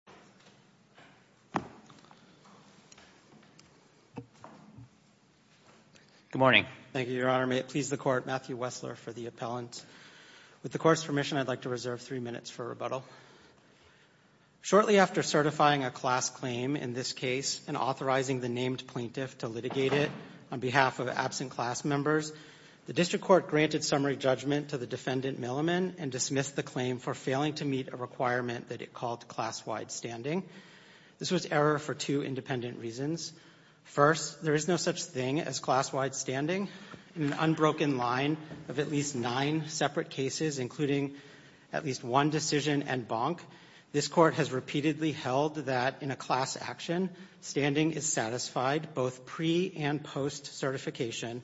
Matthew Wessler, D.C. Court of Appeal, Jr. Good morning. Thank you, Your Honor. May it please the Court, Matthew Wessler for the appellant. With the Court's permission, I'd like to reserve three minutes for rebuttal. Shortly after certifying a class claim in this case and authorizing the named plaintiff to litigate it on behalf of absent class members, the district court granted summary judgment to the defendant Milliman and dismissed the claim for failing to meet a requirement that it called class-wide standing. This was error for two independent reasons. First, there is no such thing as class-wide standing. In an unbroken line of at least nine separate cases, including at least one decision and bonk, this court has repeatedly held that in a class action, standing is satisfied both pre- and post-certification.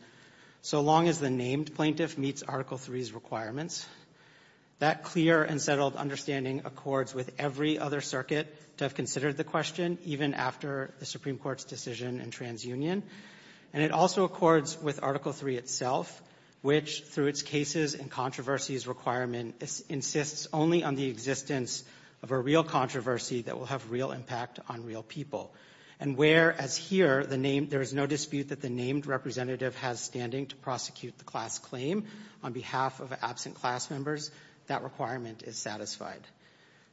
So long as the named plaintiff meets Article III's requirements, that clear and settled understanding accords with every other circuit to have considered the question, even after the Supreme Court's decision in TransUnion. And it also accords with Article III itself, which through its cases and controversies requirement insists only on the existence of a real controversy that will have real impact on real people. And whereas here, there is no dispute that the named representative has standing to prosecute the class claim on behalf of absent class members, that requirement is satisfied.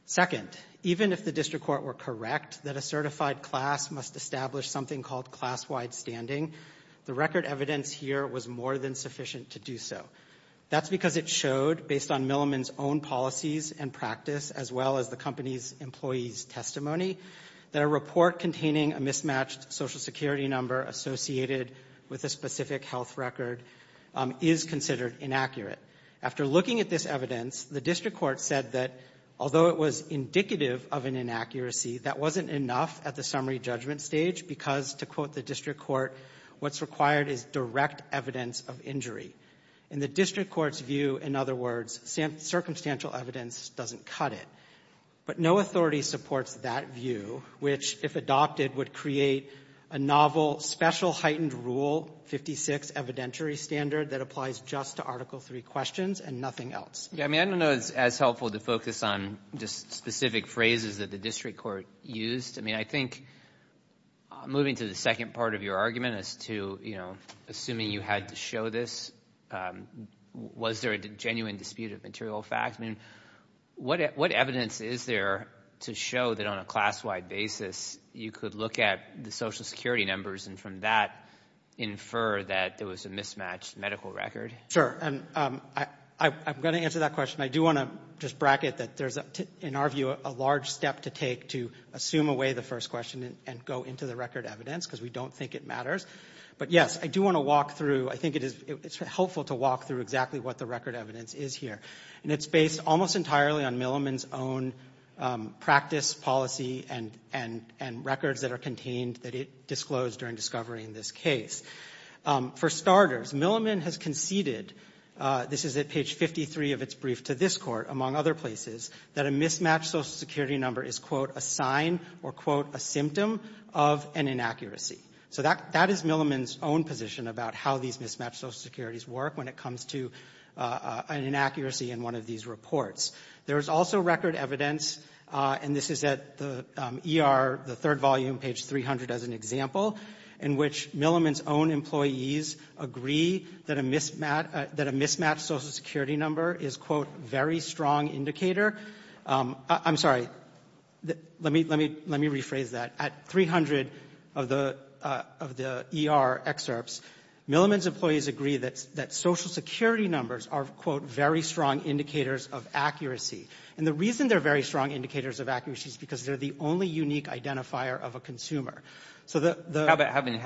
Second, even if the district court were correct that a certified class must establish something called class-wide standing, the record evidence here was more than sufficient to do so. That's because it showed, based on Milliman's own policies and practice, as well as the company's employee's testimony, that a report containing a mismatched social security number associated with a specific health record is considered inaccurate. After looking at this evidence, the district court said that although it was indicative of an inaccuracy, that wasn't enough at the summary judgment stage because, to quote the district court, what's required is direct evidence of injury. In the district court's view, in other words, circumstantial evidence doesn't cut it. But no authority supports that view, which, if adopted, would create a novel special heightened rule, 56 evidentiary standard, that applies just to Article III questions and nothing else. Yeah, I mean, I don't know it's as helpful to focus on just specific phrases that the district court used. I mean, I think moving to the second part of your argument as to assuming you had to show this, was there a genuine dispute of material facts? I mean, what evidence is there to show that on a class-wide basis you could look at the social security numbers and from that infer that there was a mismatched medical record? Sure, and I'm going to answer that question. I do want to just bracket that there's, in our view, a large step to take to assume away the first question and go into the record evidence because we don't think it matters. But yes, I do want to walk through, I think it's helpful to walk through exactly what the record evidence is here. And it's based almost entirely on Milliman's own practice, policy, and records that are contained that it disclosed during discovery in this case. For starters, Milliman has conceded, this is at page 53 of its brief to this court, among other places, that a mismatched social security number is, quote, a sign or, quote, a symptom of an inaccuracy. So that is Milliman's own position about how these mismatched social securities work when it comes to an inaccuracy in one of these reports. There's also record evidence, and this is at the ER, the third volume, page 300 as an example, in which Milliman's own employees agree that a mismatched social security number is, quote, very strong indicator. I'm sorry. Let me rephrase that. At 300 of the ER excerpts, Milliman's employees agree that social security numbers are, quote, very strong indicators of accuracy. And the reason they're very strong indicators of accuracy is because they're the only unique identifier of a consumer. So the — How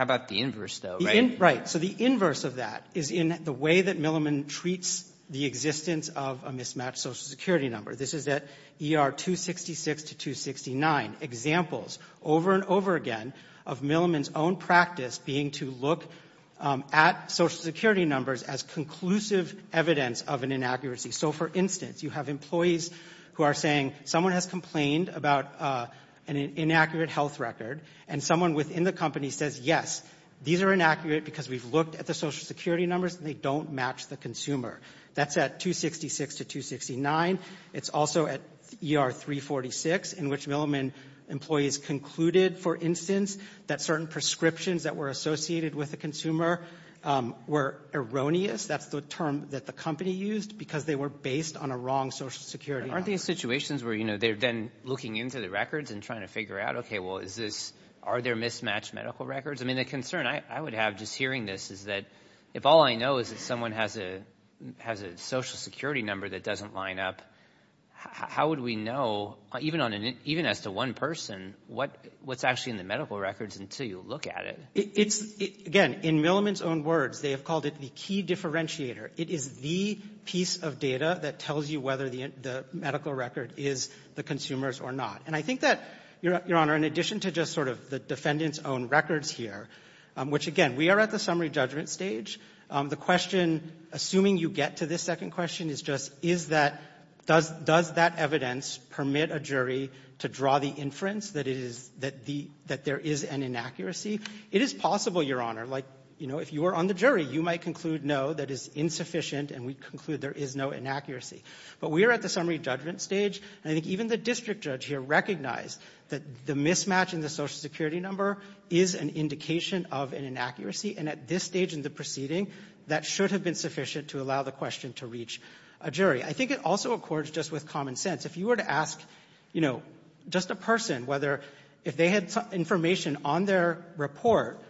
about the inverse, though, right? Right. So the inverse of that is in the way that Milliman treats the existence of a mismatched social security number. This is at ER 266 to 269. Examples over and over again of Milliman's own practice being to look at social security numbers as conclusive evidence of an inaccuracy. So, for instance, you have employees who are saying someone has complained about an inaccurate health record, and someone within the company says, yes, these are inaccurate because we've looked at the social security numbers and they don't match the consumer. That's at 266 to 269. It's also at ER 346, in which Milliman employees concluded, for instance, that certain prescriptions that were associated with the consumer were erroneous. That's the term that the company used, because they were based on a wrong social security number. Aren't these situations where, you know, they're then looking into the records and trying to figure out, OK, well, is this — are there mismatched medical records? I mean, the concern I would have just hearing this is that if all I know is that someone has a social security number that doesn't line up, how would we know, even as to one person, what's actually in the medical records until you look at it? It's — again, in Milliman's own words, they have called it the key differentiator. It is the piece of data that tells you whether the medical record is the consumer's or not. And I think that, Your Honor, in addition to just sort of the defendant's own records here, which, again, we are at the summary judgment stage, the question, assuming you get to this second question, is just is that — does that evidence permit a jury to draw the inference that it is — that there is an inaccuracy? It is possible, Your Honor, like, you know, if you were on the jury, you might conclude no, that is insufficient, and we conclude there is no inaccuracy. But we are at the summary judgment stage, and I think even the district judge here recognized that the mismatch in the social security number is an indication of an inaccuracy. And at this stage in the proceeding, that should have been sufficient to allow the question to reach a jury. I think it also accords just with common sense. If you were to ask, you know, just a person whether — if they had information on their report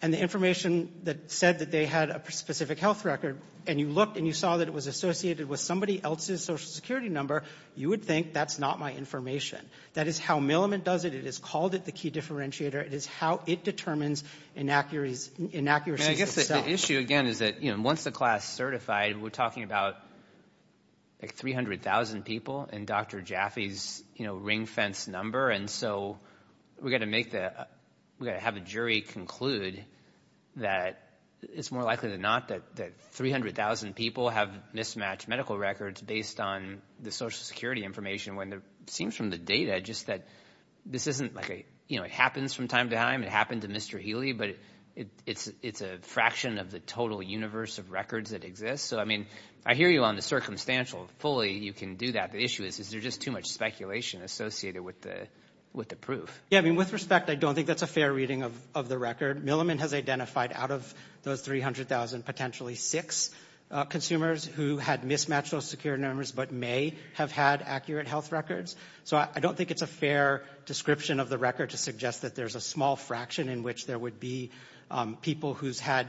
and the information that said that they had a specific health record, and you looked and you saw that it was associated with somebody else's social security number, you would think that's not my information. That is how Milliman does it. It has called it the key differentiator. It is how it determines inaccuracies itself. And I guess the issue, again, is that, you know, once the class is certified, we're talking about, like, 300,000 people in Dr. Jaffe's, you know, ring fence number. And so we're going to make the — we're going to have a jury conclude that it's more likely than not that 300,000 people have mismatched medical records based on the social security information, when it seems from the data just that this isn't like a — you know, it happens from time to time. It happened to Mr. Healy. But it's a fraction of the total universe of records that exist. So, I mean, I hear you on the circumstantial fully. You can do that. But the issue is, is there just too much speculation associated with the proof? Yeah, I mean, with respect, I don't think that's a fair reading of the record. Milliman has identified out of those 300,000, potentially six consumers who had mismatched those security numbers but may have had accurate health records. So I don't think it's a fair description of the record to suggest that there's a small fraction in which there would be people who had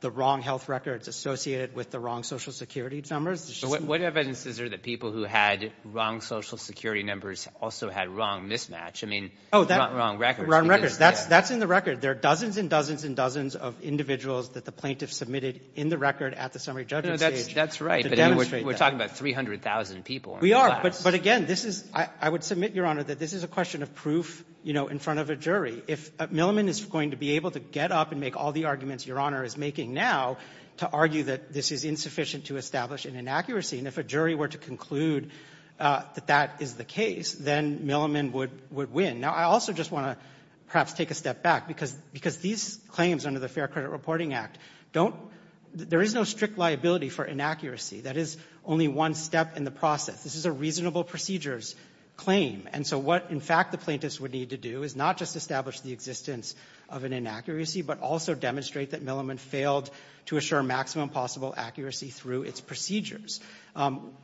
the wrong health records associated with the wrong social security numbers. What evidence is there that people who had wrong social security numbers also had wrong mismatch? I mean, wrong records. That's in the record. There are dozens and dozens and dozens of individuals that the plaintiffs submitted in the record at the summary judging stage. That's right. But we're talking about 300,000 people. We are. But again, this is — I would submit, Your Honor, that this is a question of proof, you know, in front of a jury. If Milliman is going to be able to get up and make all the arguments Your Honor is making now to argue that this is insufficient to establish an inaccuracy, and if a jury were to conclude that that is the case, then Milliman would win. Now, I also just want to perhaps take a step back, because these claims under the Fair Credit Reporting Act don't — there is no strict liability for inaccuracy. That is only one step in the process. This is a reasonable procedures claim. And so what, in fact, the plaintiffs would need to do is not just establish the existence of an inaccuracy, but also demonstrate that Milliman failed to assure maximum possible accuracy through its procedures.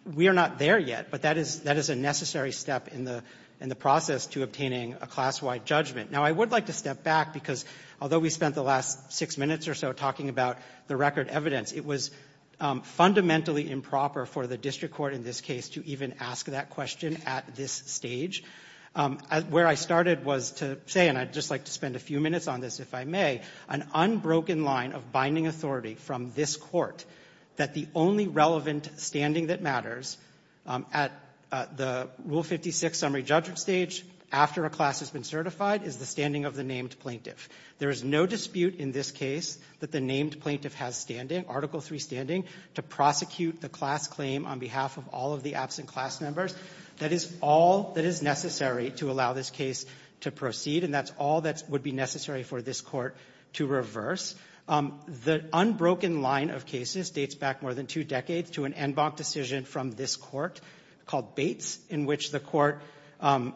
We are not there yet, but that is a necessary step in the process to obtaining a class-wide judgment. Now, I would like to step back, because although we spent the last six minutes or so talking about the record evidence, it was fundamentally improper for the district court in this case to even ask that question at this stage. Where I started was to say — and I'd just like to spend a few minutes on this, if I may — an unbroken line of binding authority from this Court that the only relevant standing that matters at the Rule 56 summary judgment stage after a class has been certified is the standing of the named plaintiff. There is no dispute in this case that the named plaintiff has standing, Article III standing, to prosecute the class claim on behalf of all of the absent class members. That is all that is necessary to allow this case to proceed, and that's all that would be necessary for this Court to reverse. The unbroken line of cases dates back more than two decades to an en banc decision from this Court called Bates, in which the Court — and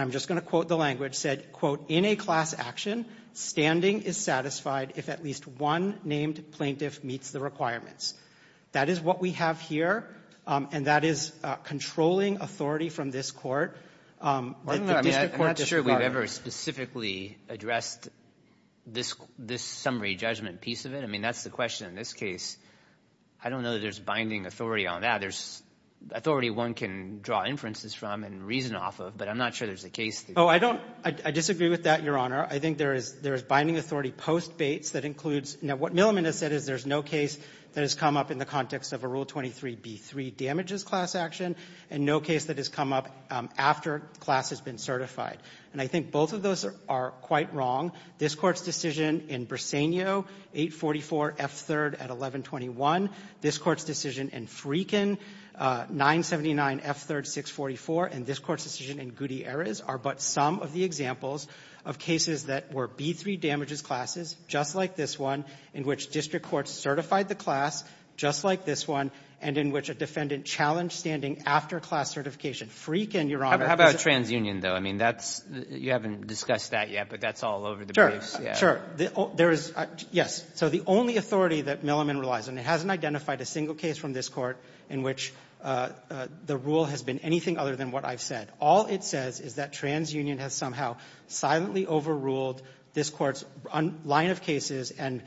I'm just going to quote the language — said, quote, in a class action, standing is satisfied if at least one named plaintiff meets the requirements. That is what we have here, and that is controlling authority from this Court. I'm not sure we've ever specifically addressed this summary judgment piece of it. I mean, that's the question in this case. I don't know that there's binding authority on that. There's authority one can draw inferences from and reason off of, but I'm not sure there's a case that — Oh, I don't — I disagree with that, Your Honor. I think there is — there is binding authority post-Bates that includes — now, what Milliman has said is there's no case that has come up in the context of a Rule 23b3 damages class action, and no case that has come up after the class has been certified. And I think both of those are quite wrong. This Court's decision in Briseno, 844 F. 3rd at 1121, this Court's decision in Freekin, 979 F. 3rd, 644, and this Court's decision in Gutierrez are but some of the examples of cases that were B3 damages classes, just like this one, in which district courts certified the class, just like this one, and in which a defendant challenged standing after the class was certified. After class certification. Freekin, Your Honor — How about transunion, though? I mean, that's — you haven't discussed that yet, but that's all over the briefs. Sure. Sure. There is — yes. So the only authority that Milliman relies on — it hasn't identified a single case from this Court in which the rule has been anything other than what I've said. All it says is that transunion has somehow silently overruled this Court's line of cases and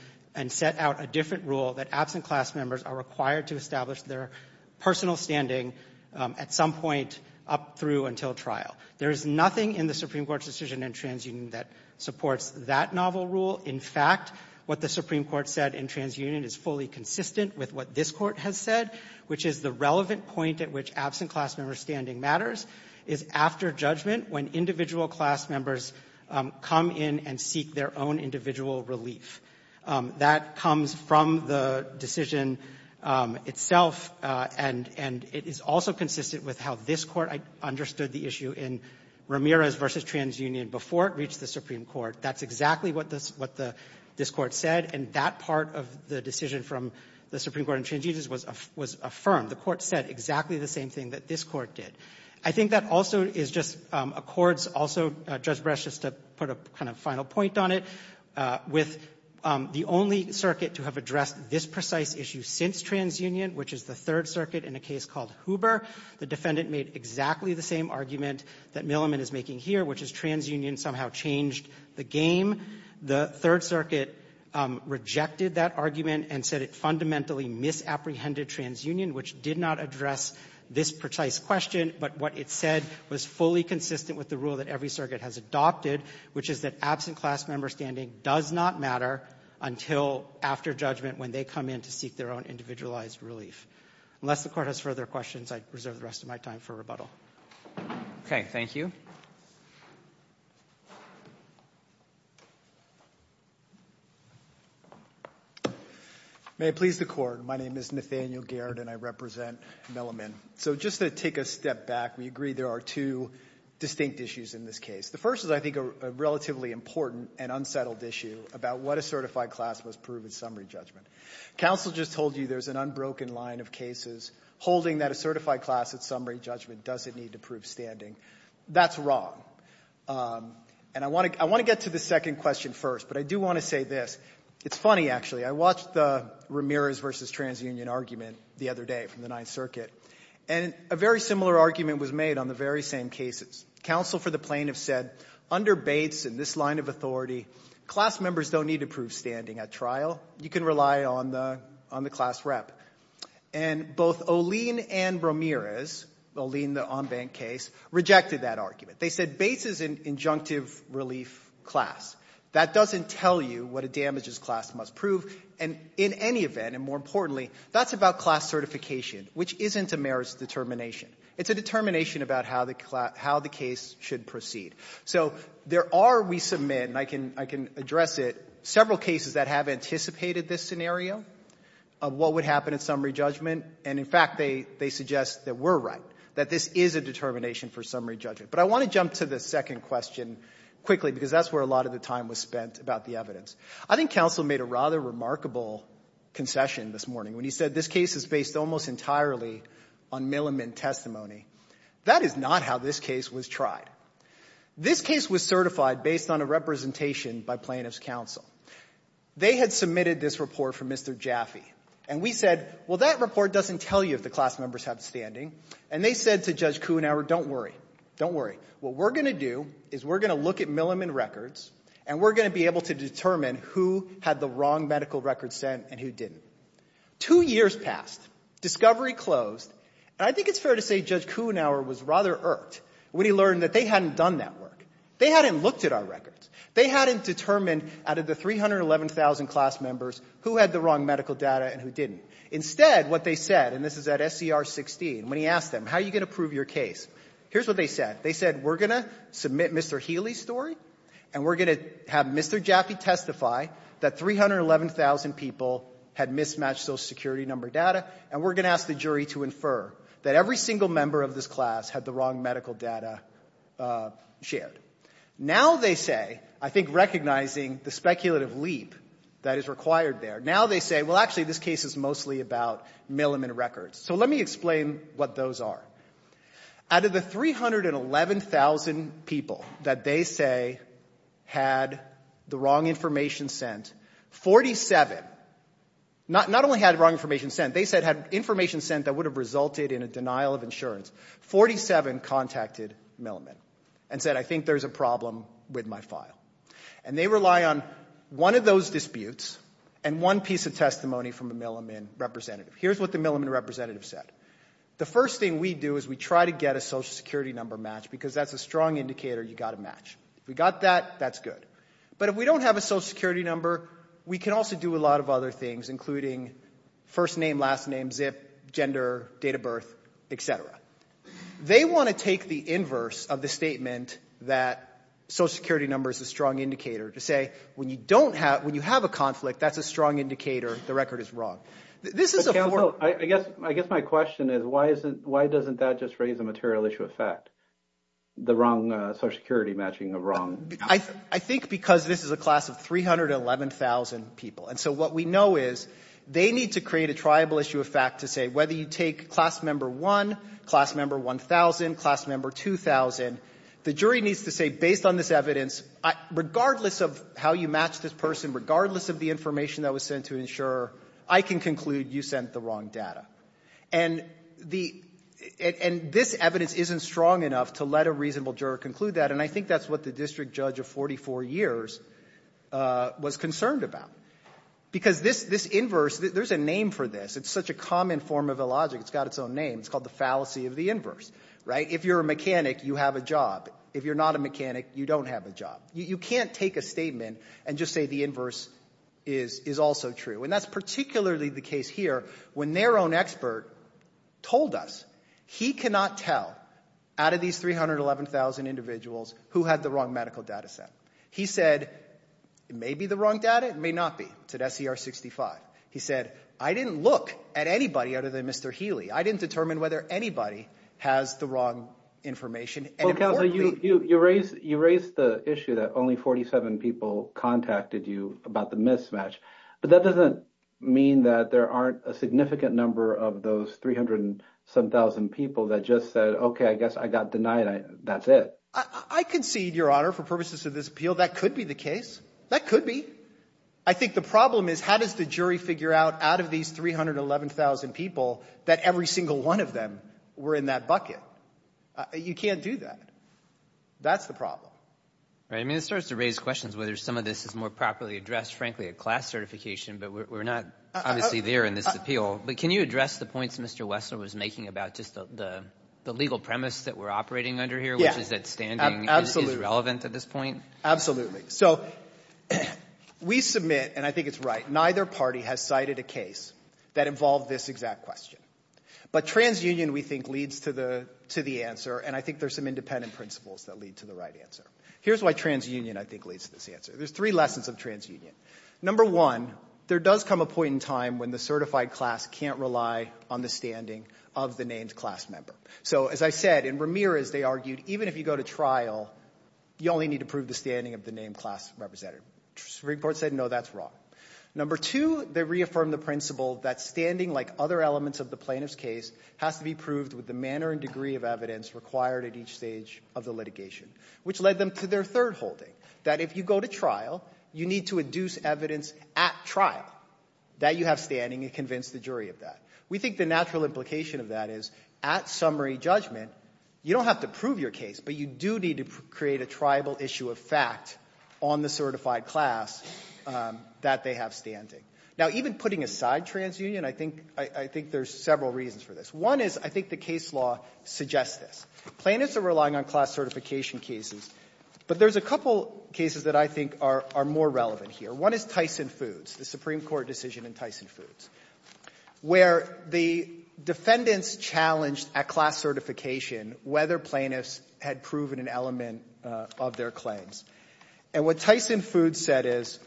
set out a different rule that absent class members are required to establish their personal standing at some point up through until trial. There is nothing in the Supreme Court's decision in transunion that supports that novel rule. In fact, what the Supreme Court said in transunion is fully consistent with what this Court has said, which is the relevant point at which absent class member standing matters is after judgment when individual class members come in and seek their own individual relief. That comes from the decision itself, and it is also consistent with how this Court understood the issue in Ramirez v. Transunion before it reached the Supreme Court. That's exactly what this — what this Court said, and that part of the decision from the Supreme Court in transunions was — was affirmed. The Court said exactly the same thing that this Court did. I think that also is just a Court's also — Judge Breyer, just to put a kind of final point on it, with the only circuit to have addressed this precise issue since transunion, which is the Third Circuit in a case called Huber, the defendant made exactly the same argument that Milliman is making here, which is transunion somehow changed the game that this Court is playing. The Third Circuit rejected that argument and said it fundamentally misapprehended transunion, which did not address this precise question, but what it said was fully consistent with the rule that every circuit has adopted, which is that absent class member standing does not matter until after judgment when they come in to seek their own individualized relief. Unless the Court has further questions, I'd reserve the rest of my time for rebuttal. Okay. Thank you. May it please the Court. My name is Nathaniel Garrett, and I represent Milliman. So just to take a step back, we agree there are two distinct issues in this case. The first is, I think, a relatively important and unsettled issue about what a certified class must prove in summary judgment. Counsel just told you there's an unbroken line of cases holding that a certified class at summary judgment doesn't need to prove standing. That's wrong. And I want to get to the second question first, but I do want to say this. It's funny, actually. I watched the Ramirez versus transunion argument the other day from the Ninth Circuit, and a very similar argument was made on the very same cases. Counsel for the plaintiff said, under Bates and this line of authority, class members don't need to prove standing at trial. You can rely on the class rep. And both Olien and Ramirez, Olien, the on-bank case, rejected that argument. They said Bates is an injunctive relief class. That doesn't tell you what a damages class must prove. And in any event, and more importantly, that's about class certification, which isn't a merits determination. It's a determination about how the case should proceed. So there are, we submit, and I can address it, several cases that have anticipated this scenario of what would happen at summary judgment. And, in fact, they suggest that we're right, that this is a determination for summary judgment. But I want to jump to the second question quickly because that's where a lot of the time was spent about the evidence. I think counsel made a rather remarkable concession this morning when he said this case is based almost entirely on Milliman testimony. That is not how this case was tried. This case was certified based on a representation by plaintiff's counsel. They had submitted this report for Mr. Jaffe. And we said, well, that report doesn't tell you if the class members have standing. And they said to Judge Kuhnhauer, don't worry, don't worry. What we're going to do is we're going to look at Milliman records, and we're going to be able to determine who had the wrong medical record sent and who didn't. Two years passed. Discovery closed. And I think it's fair to say Judge Kuhnhauer was rather irked when he learned that they hadn't done that work. They hadn't looked at our records. They hadn't determined out of the 311,000 class members who had the wrong medical data and who didn't. Instead, what they said, and this is at SCR 16, when he asked them, how are you going to prove your case, here's what they said. They said, we're going to submit Mr. Healy's story, and we're going to have Mr. Jaffe testify that 311,000 people had mismatched Social Security number data, and we're going to ask the jury to infer that every single member of this class had the wrong medical data shared. Now they say, I think recognizing the speculative leap that is required there, now they say, well, actually, this case is mostly about Milliman records. So let me explain what those are. Out of the 311,000 people that they say had the wrong information sent, 47 not only had the wrong information sent, they said had information sent that would have resulted in a denial of insurance, 47 contacted Milliman and said, I think there's a problem with my file. And they rely on one of those disputes and one piece of testimony from a Milliman representative. Here's what the Milliman representative said. The first thing we do is we try to get a Social Security number match because that's a strong indicator you got a match. If we got that, that's good. But if we don't have a Social Security number, we can also do a lot of other things, including first name, last name, zip, gender, date of birth, et cetera. They want to take the inverse of the statement that Social Security number is a strong indicator to say when you have a conflict, that's a strong indicator the record is wrong. This is a form... I guess my question is why doesn't that just raise a material issue of fact, the wrong Social Security matching of wrong... I think because this is a class of 311,000 people. And so what we know is they need to create a triable issue of fact to say whether you take Class Member 1, Class Member 1,000, Class Member 2,000, the jury needs to say based on this evidence, regardless of how you match this person, regardless of the information that was sent to an insurer, I can conclude you sent the wrong data. And the — and this evidence isn't strong enough to let a reasonable juror conclude that, and I think that's what the district judge of 44 years was concerned about. Because this inverse, there's a name for this. It's such a common form of a logic. It's got its own name. It's called the fallacy of the inverse, right? If you're a mechanic, you have a job. If you're not a mechanic, you don't have a job. You can't take a statement and just say the inverse is also true. And that's particularly the case here when their own expert told us he cannot tell out of these 311,000 individuals who had the wrong medical data set. He said it may be the wrong data. It may not be. It's at SCR 65. He said, I didn't look at anybody other than Mr. Healy. I didn't determine whether anybody has the wrong information. And importantly — Well, Counselor, you raised the issue that only 47 people contacted you about the mismatch. But that doesn't mean that there aren't a significant number of those 307,000 people that just said, OK, I guess I got denied. That's it. I concede, Your Honor, for purposes of this appeal, that could be the case. That could be. I think the problem is how does the jury figure out out of these 311,000 people that every single one of them were in that bucket? You can't do that. That's the problem. I mean, this starts to raise questions whether some of this is more properly addressed, frankly, at class certification. But we're not obviously there in this appeal. But can you address the points Mr. Wessler was making about just the legal premise that we're operating under here, which is that standing is relevant at this point? So we submit, and I think it's right, neither party has cited a case that involved this exact question. But transunion, we think, leads to the answer. And I think there's some independent principles that lead to the right answer. Here's why transunion, I think, leads to this answer. There's three lessons of transunion. Number one, there does come a point in time when the certified class can't rely on the standing of the named class member. So, as I said, in Ramirez, they argued even if you go to trial, you only need to prove the standing of the named class representative. Supreme Court said no, that's wrong. Number two, they reaffirmed the principle that standing, like other elements of the plaintiff's case, has to be proved with the manner and degree of evidence required at each stage of the litigation, which led them to their third holding, that if you go to trial, you need to induce evidence at trial that you have standing and convince the jury of that. We think the natural implication of that is at summary judgment, you don't have to prove your case, but you do need to create a triable issue of fact on the certified class that they have standing. Now, even putting aside transunion, I think there's several reasons for this. One is I think the case law suggests this. Plaintiffs are relying on class certification cases, but there's a couple cases that I think are more relevant here. One is Tyson Foods, the Supreme Court decision in Tyson Foods, where the defendants challenged at class certification whether plaintiffs had proven an element of their claims. And what Tyson Foods said is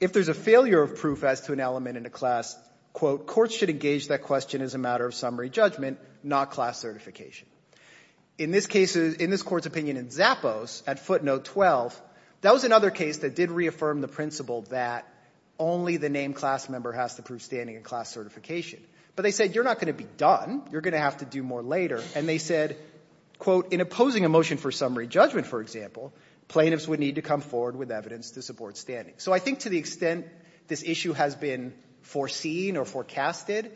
if there's a failure of proof as to an element in a class, quote, courts should engage that question as a matter of summary judgment, not class certification. In this case, in this Court's opinion in Zappos at footnote 12, that was another case that did reaffirm the principle that only the named class member has to prove standing in class certification. But they said you're not going to be done. You're going to have to do more later. And they said, quote, in opposing a motion for summary judgment, for example, plaintiffs would need to come forward with evidence to support standing. So I think to the extent this issue has been foreseen or forecasted,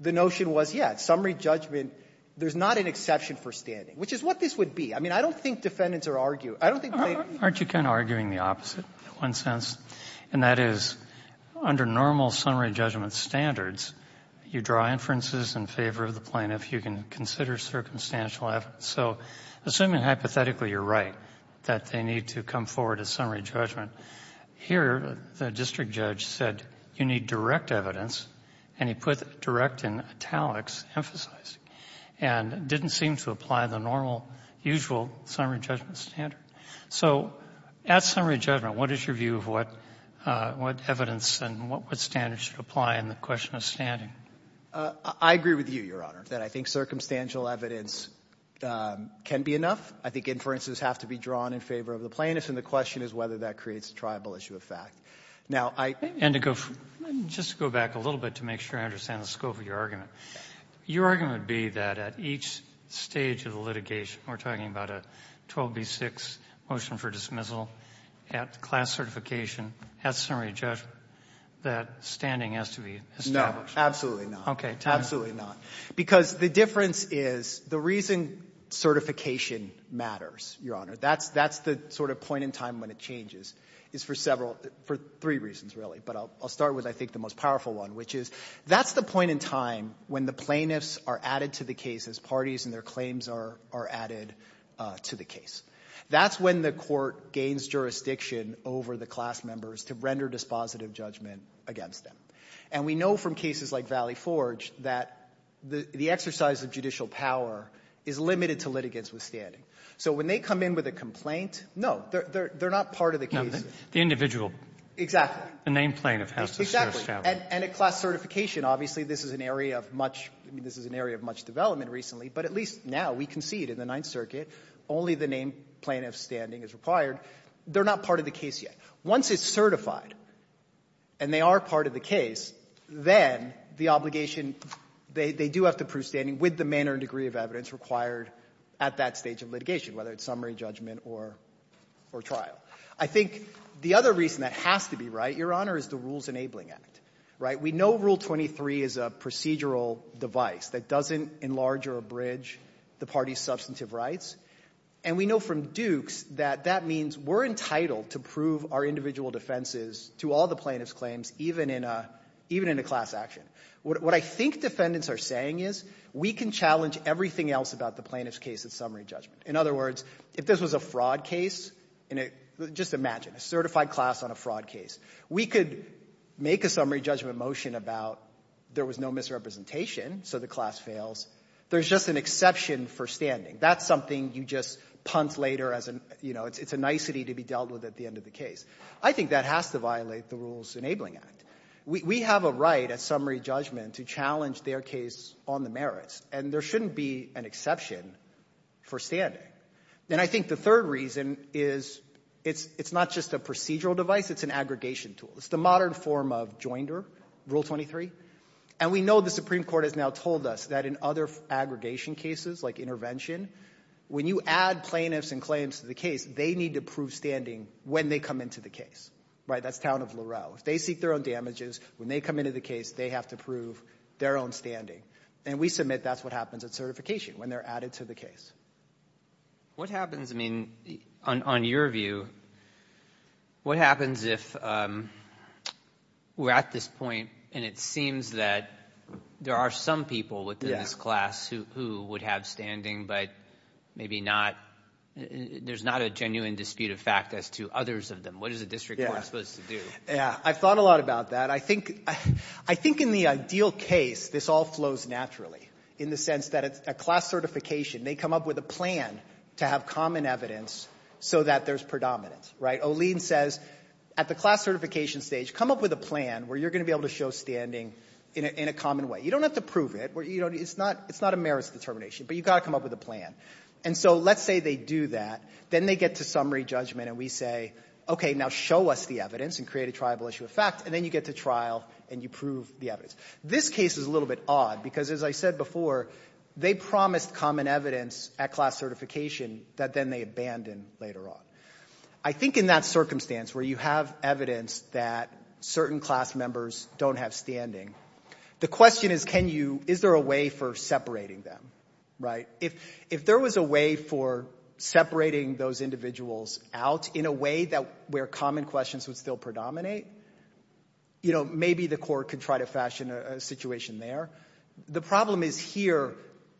the notion was, yeah, summary judgment, there's not an exception for standing, which is what this would be. I mean, I don't think defendants are arguing. I don't think plaintiffs are arguing. Aren't you kind of arguing the opposite in one sense? And that is under normal summary judgment standards, you draw inferences in favor of the plaintiff. You can consider circumstantial evidence. So assuming hypothetically you're right, that they need to come forward as summary judgment, here the district judge said you need direct evidence, and he put direct in italics, emphasizing, and didn't seem to apply the normal, usual summary judgment standard. So at summary judgment, what is your view of what evidence and what standards should apply in the question of standing? I agree with you, Your Honor, that I think circumstantial evidence can be enough. I think inferences have to be drawn in favor of the plaintiff, and the question is whether that creates a triable issue of fact. Now, I think — And to go — just to go back a little bit to make sure I understand the scope of your argument, your argument would be that at each stage of the litigation, we're talking about a 12B6 motion for dismissal, at class certification, at summary judgment, that standing has to be established. Absolutely not. Absolutely not. Because the difference is the reason certification matters, Your Honor, that's the sort of point in time when it changes, is for several — for three reasons, really. But I'll start with, I think, the most powerful one, which is that's the point in time when the plaintiffs are added to the case as parties and their claims are added to the case. That's when the court gains jurisdiction over the class members to render dispositive judgment against them. And we know from cases like Valley Forge that the exercise of judicial power is limited to litigants withstanding. So when they come in with a complaint, no, they're not part of the case. The individual. Exactly. The named plaintiff has to be established. And at class certification, obviously, this is an area of much — I mean, this is an area of much development recently, but at least now we can see it in the Ninth Circuit only the named plaintiff's standing is required. They're not part of the case yet. Once it's certified and they are part of the case, then the obligation — they do have to prove standing with the manner and degree of evidence required at that stage of litigation, whether it's summary judgment or trial. I think the other reason that has to be right, Your Honor, is the Rules Enabling Act, right? We know Rule 23 is a procedural device that doesn't enlarge or abridge the party's substantive rights. And we know from Dukes that that means we're entitled to prove our individual defenses to all the plaintiff's claims, even in a class action. What I think defendants are saying is we can challenge everything else about the plaintiff's case at summary judgment. In other words, if this was a fraud case — just imagine, a certified class on a fraud case. We could make a summary judgment motion about there was no misrepresentation, so the class fails. There's just an exception for standing. That's something you just punt later as an — you know, it's a nicety to be dealt with at the end of the case. I think that has to violate the Rules Enabling Act. We have a right at summary judgment to challenge their case on the merits, and there shouldn't be an exception for standing. And I think the third reason is it's not just a procedural device, it's an aggregation tool. It's the modern form of JOINDER, Rule 23. And we know the Supreme Court has now told us that in other aggregation cases, like intervention, when you add plaintiffs and claims to the case, they need to prove standing when they come into the case. Right? That's Town of LaRoe. If they seek their own damages, when they come into the case, they have to prove their own standing. And we submit that's what happens at certification, when they're added to the What happens — I mean, on your view, what happens if we're at this point and it But maybe not — there's not a genuine dispute of fact as to others of them. What is the district court supposed to do? I've thought a lot about that. I think in the ideal case, this all flows naturally, in the sense that at class certification, they come up with a plan to have common evidence so that there's predominance. Right? Olin says, at the class certification stage, come up with a plan where you're going to be able to show standing in a common way. You don't have to prove it. It's not a merits determination, but you've got to come up with a plan. And so let's say they do that. Then they get to summary judgment and we say, okay, now show us the evidence and create a triable issue of fact. And then you get to trial and you prove the evidence. This case is a little bit odd because, as I said before, they promised common evidence at class certification that then they abandon later on. I think in that circumstance where you have evidence that certain class members don't have standing, the question is, is there a way for separating them? Right? If there was a way for separating those individuals out in a way where common questions would still predominate, maybe the court could try to fashion a situation there. The problem is here,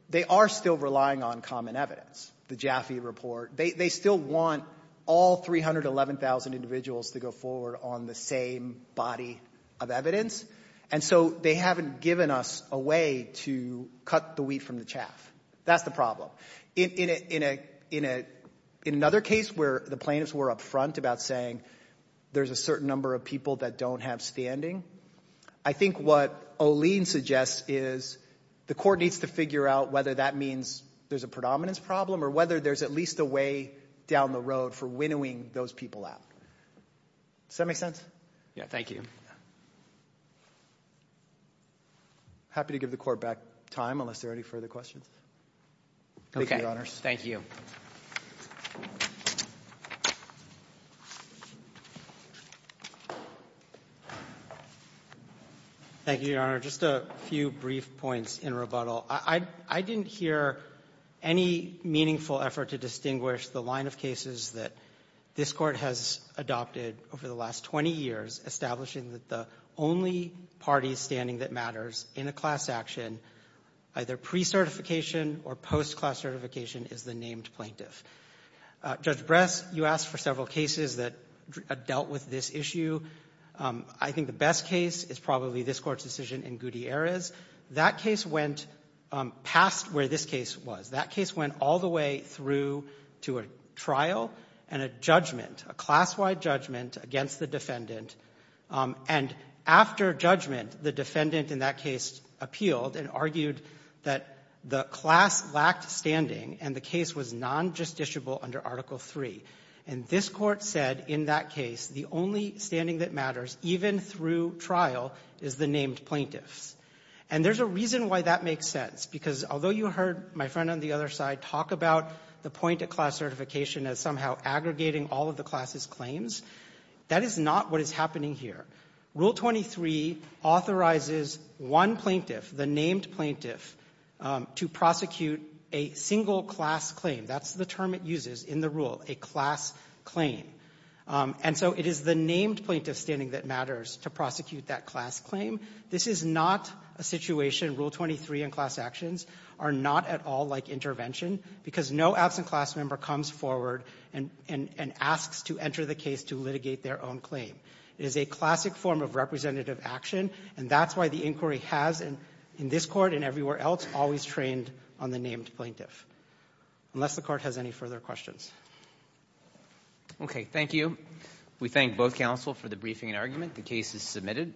they are still relying on common evidence, the Jaffe report. They still want all 311,000 individuals to go forward on the same body of evidence, and so they haven't given us a way to cut the wheat from the chaff. That's the problem. In another case where the plaintiffs were up front about saying there's a certain number of people that don't have standing, I think what Olien suggests is the court needs to figure out whether that means there's a predominance problem or whether there's at least a way down the road for winnowing those people out. Does that make sense? Thank you. I'm happy to give the Court back time unless there are any further questions. Thank you, Your Honors. Thank you. Thank you, Your Honor. Just a few brief points in rebuttal. I didn't hear any meaningful effort to distinguish the line of cases that this Court has adopted over the last 20 years establishing that the only party standing that matters in a class action, either pre-certification or post-class certification, is the named plaintiff. Judge Bress, you asked for several cases that dealt with this issue. I think the best case is probably this Court's decision in Gutierrez. That case went past where this case was. That case went all the way through to a trial and a judgment, a class-wide judgment against the defendant. And after judgment, the defendant in that case appealed and argued that the class lacked standing and the case was non-justiciable under Article III. And this Court said in that case the only standing that matters, even through trial, is the named plaintiffs. And there's a reason why that makes sense. Because although you heard my friend on the other side talk about the point of class certification as somehow aggregating all of the class's claims, that is not what is happening here. Rule 23 authorizes one plaintiff, the named plaintiff, to prosecute a single class claim. That's the term it uses in the rule, a class claim. And so it is the named plaintiff standing that matters to prosecute that class claim. This is not a situation, Rule 23 and class actions, are not at all like intervention because no absent class member comes forward and asks to enter the case to litigate their own claim. It is a classic form of representative action, and that's why the inquiry has, in this Court and everywhere else, always trained on the named plaintiff. Unless the Court has any further questions. Thank you. We thank both counsel for the briefing and argument. The case is submitted.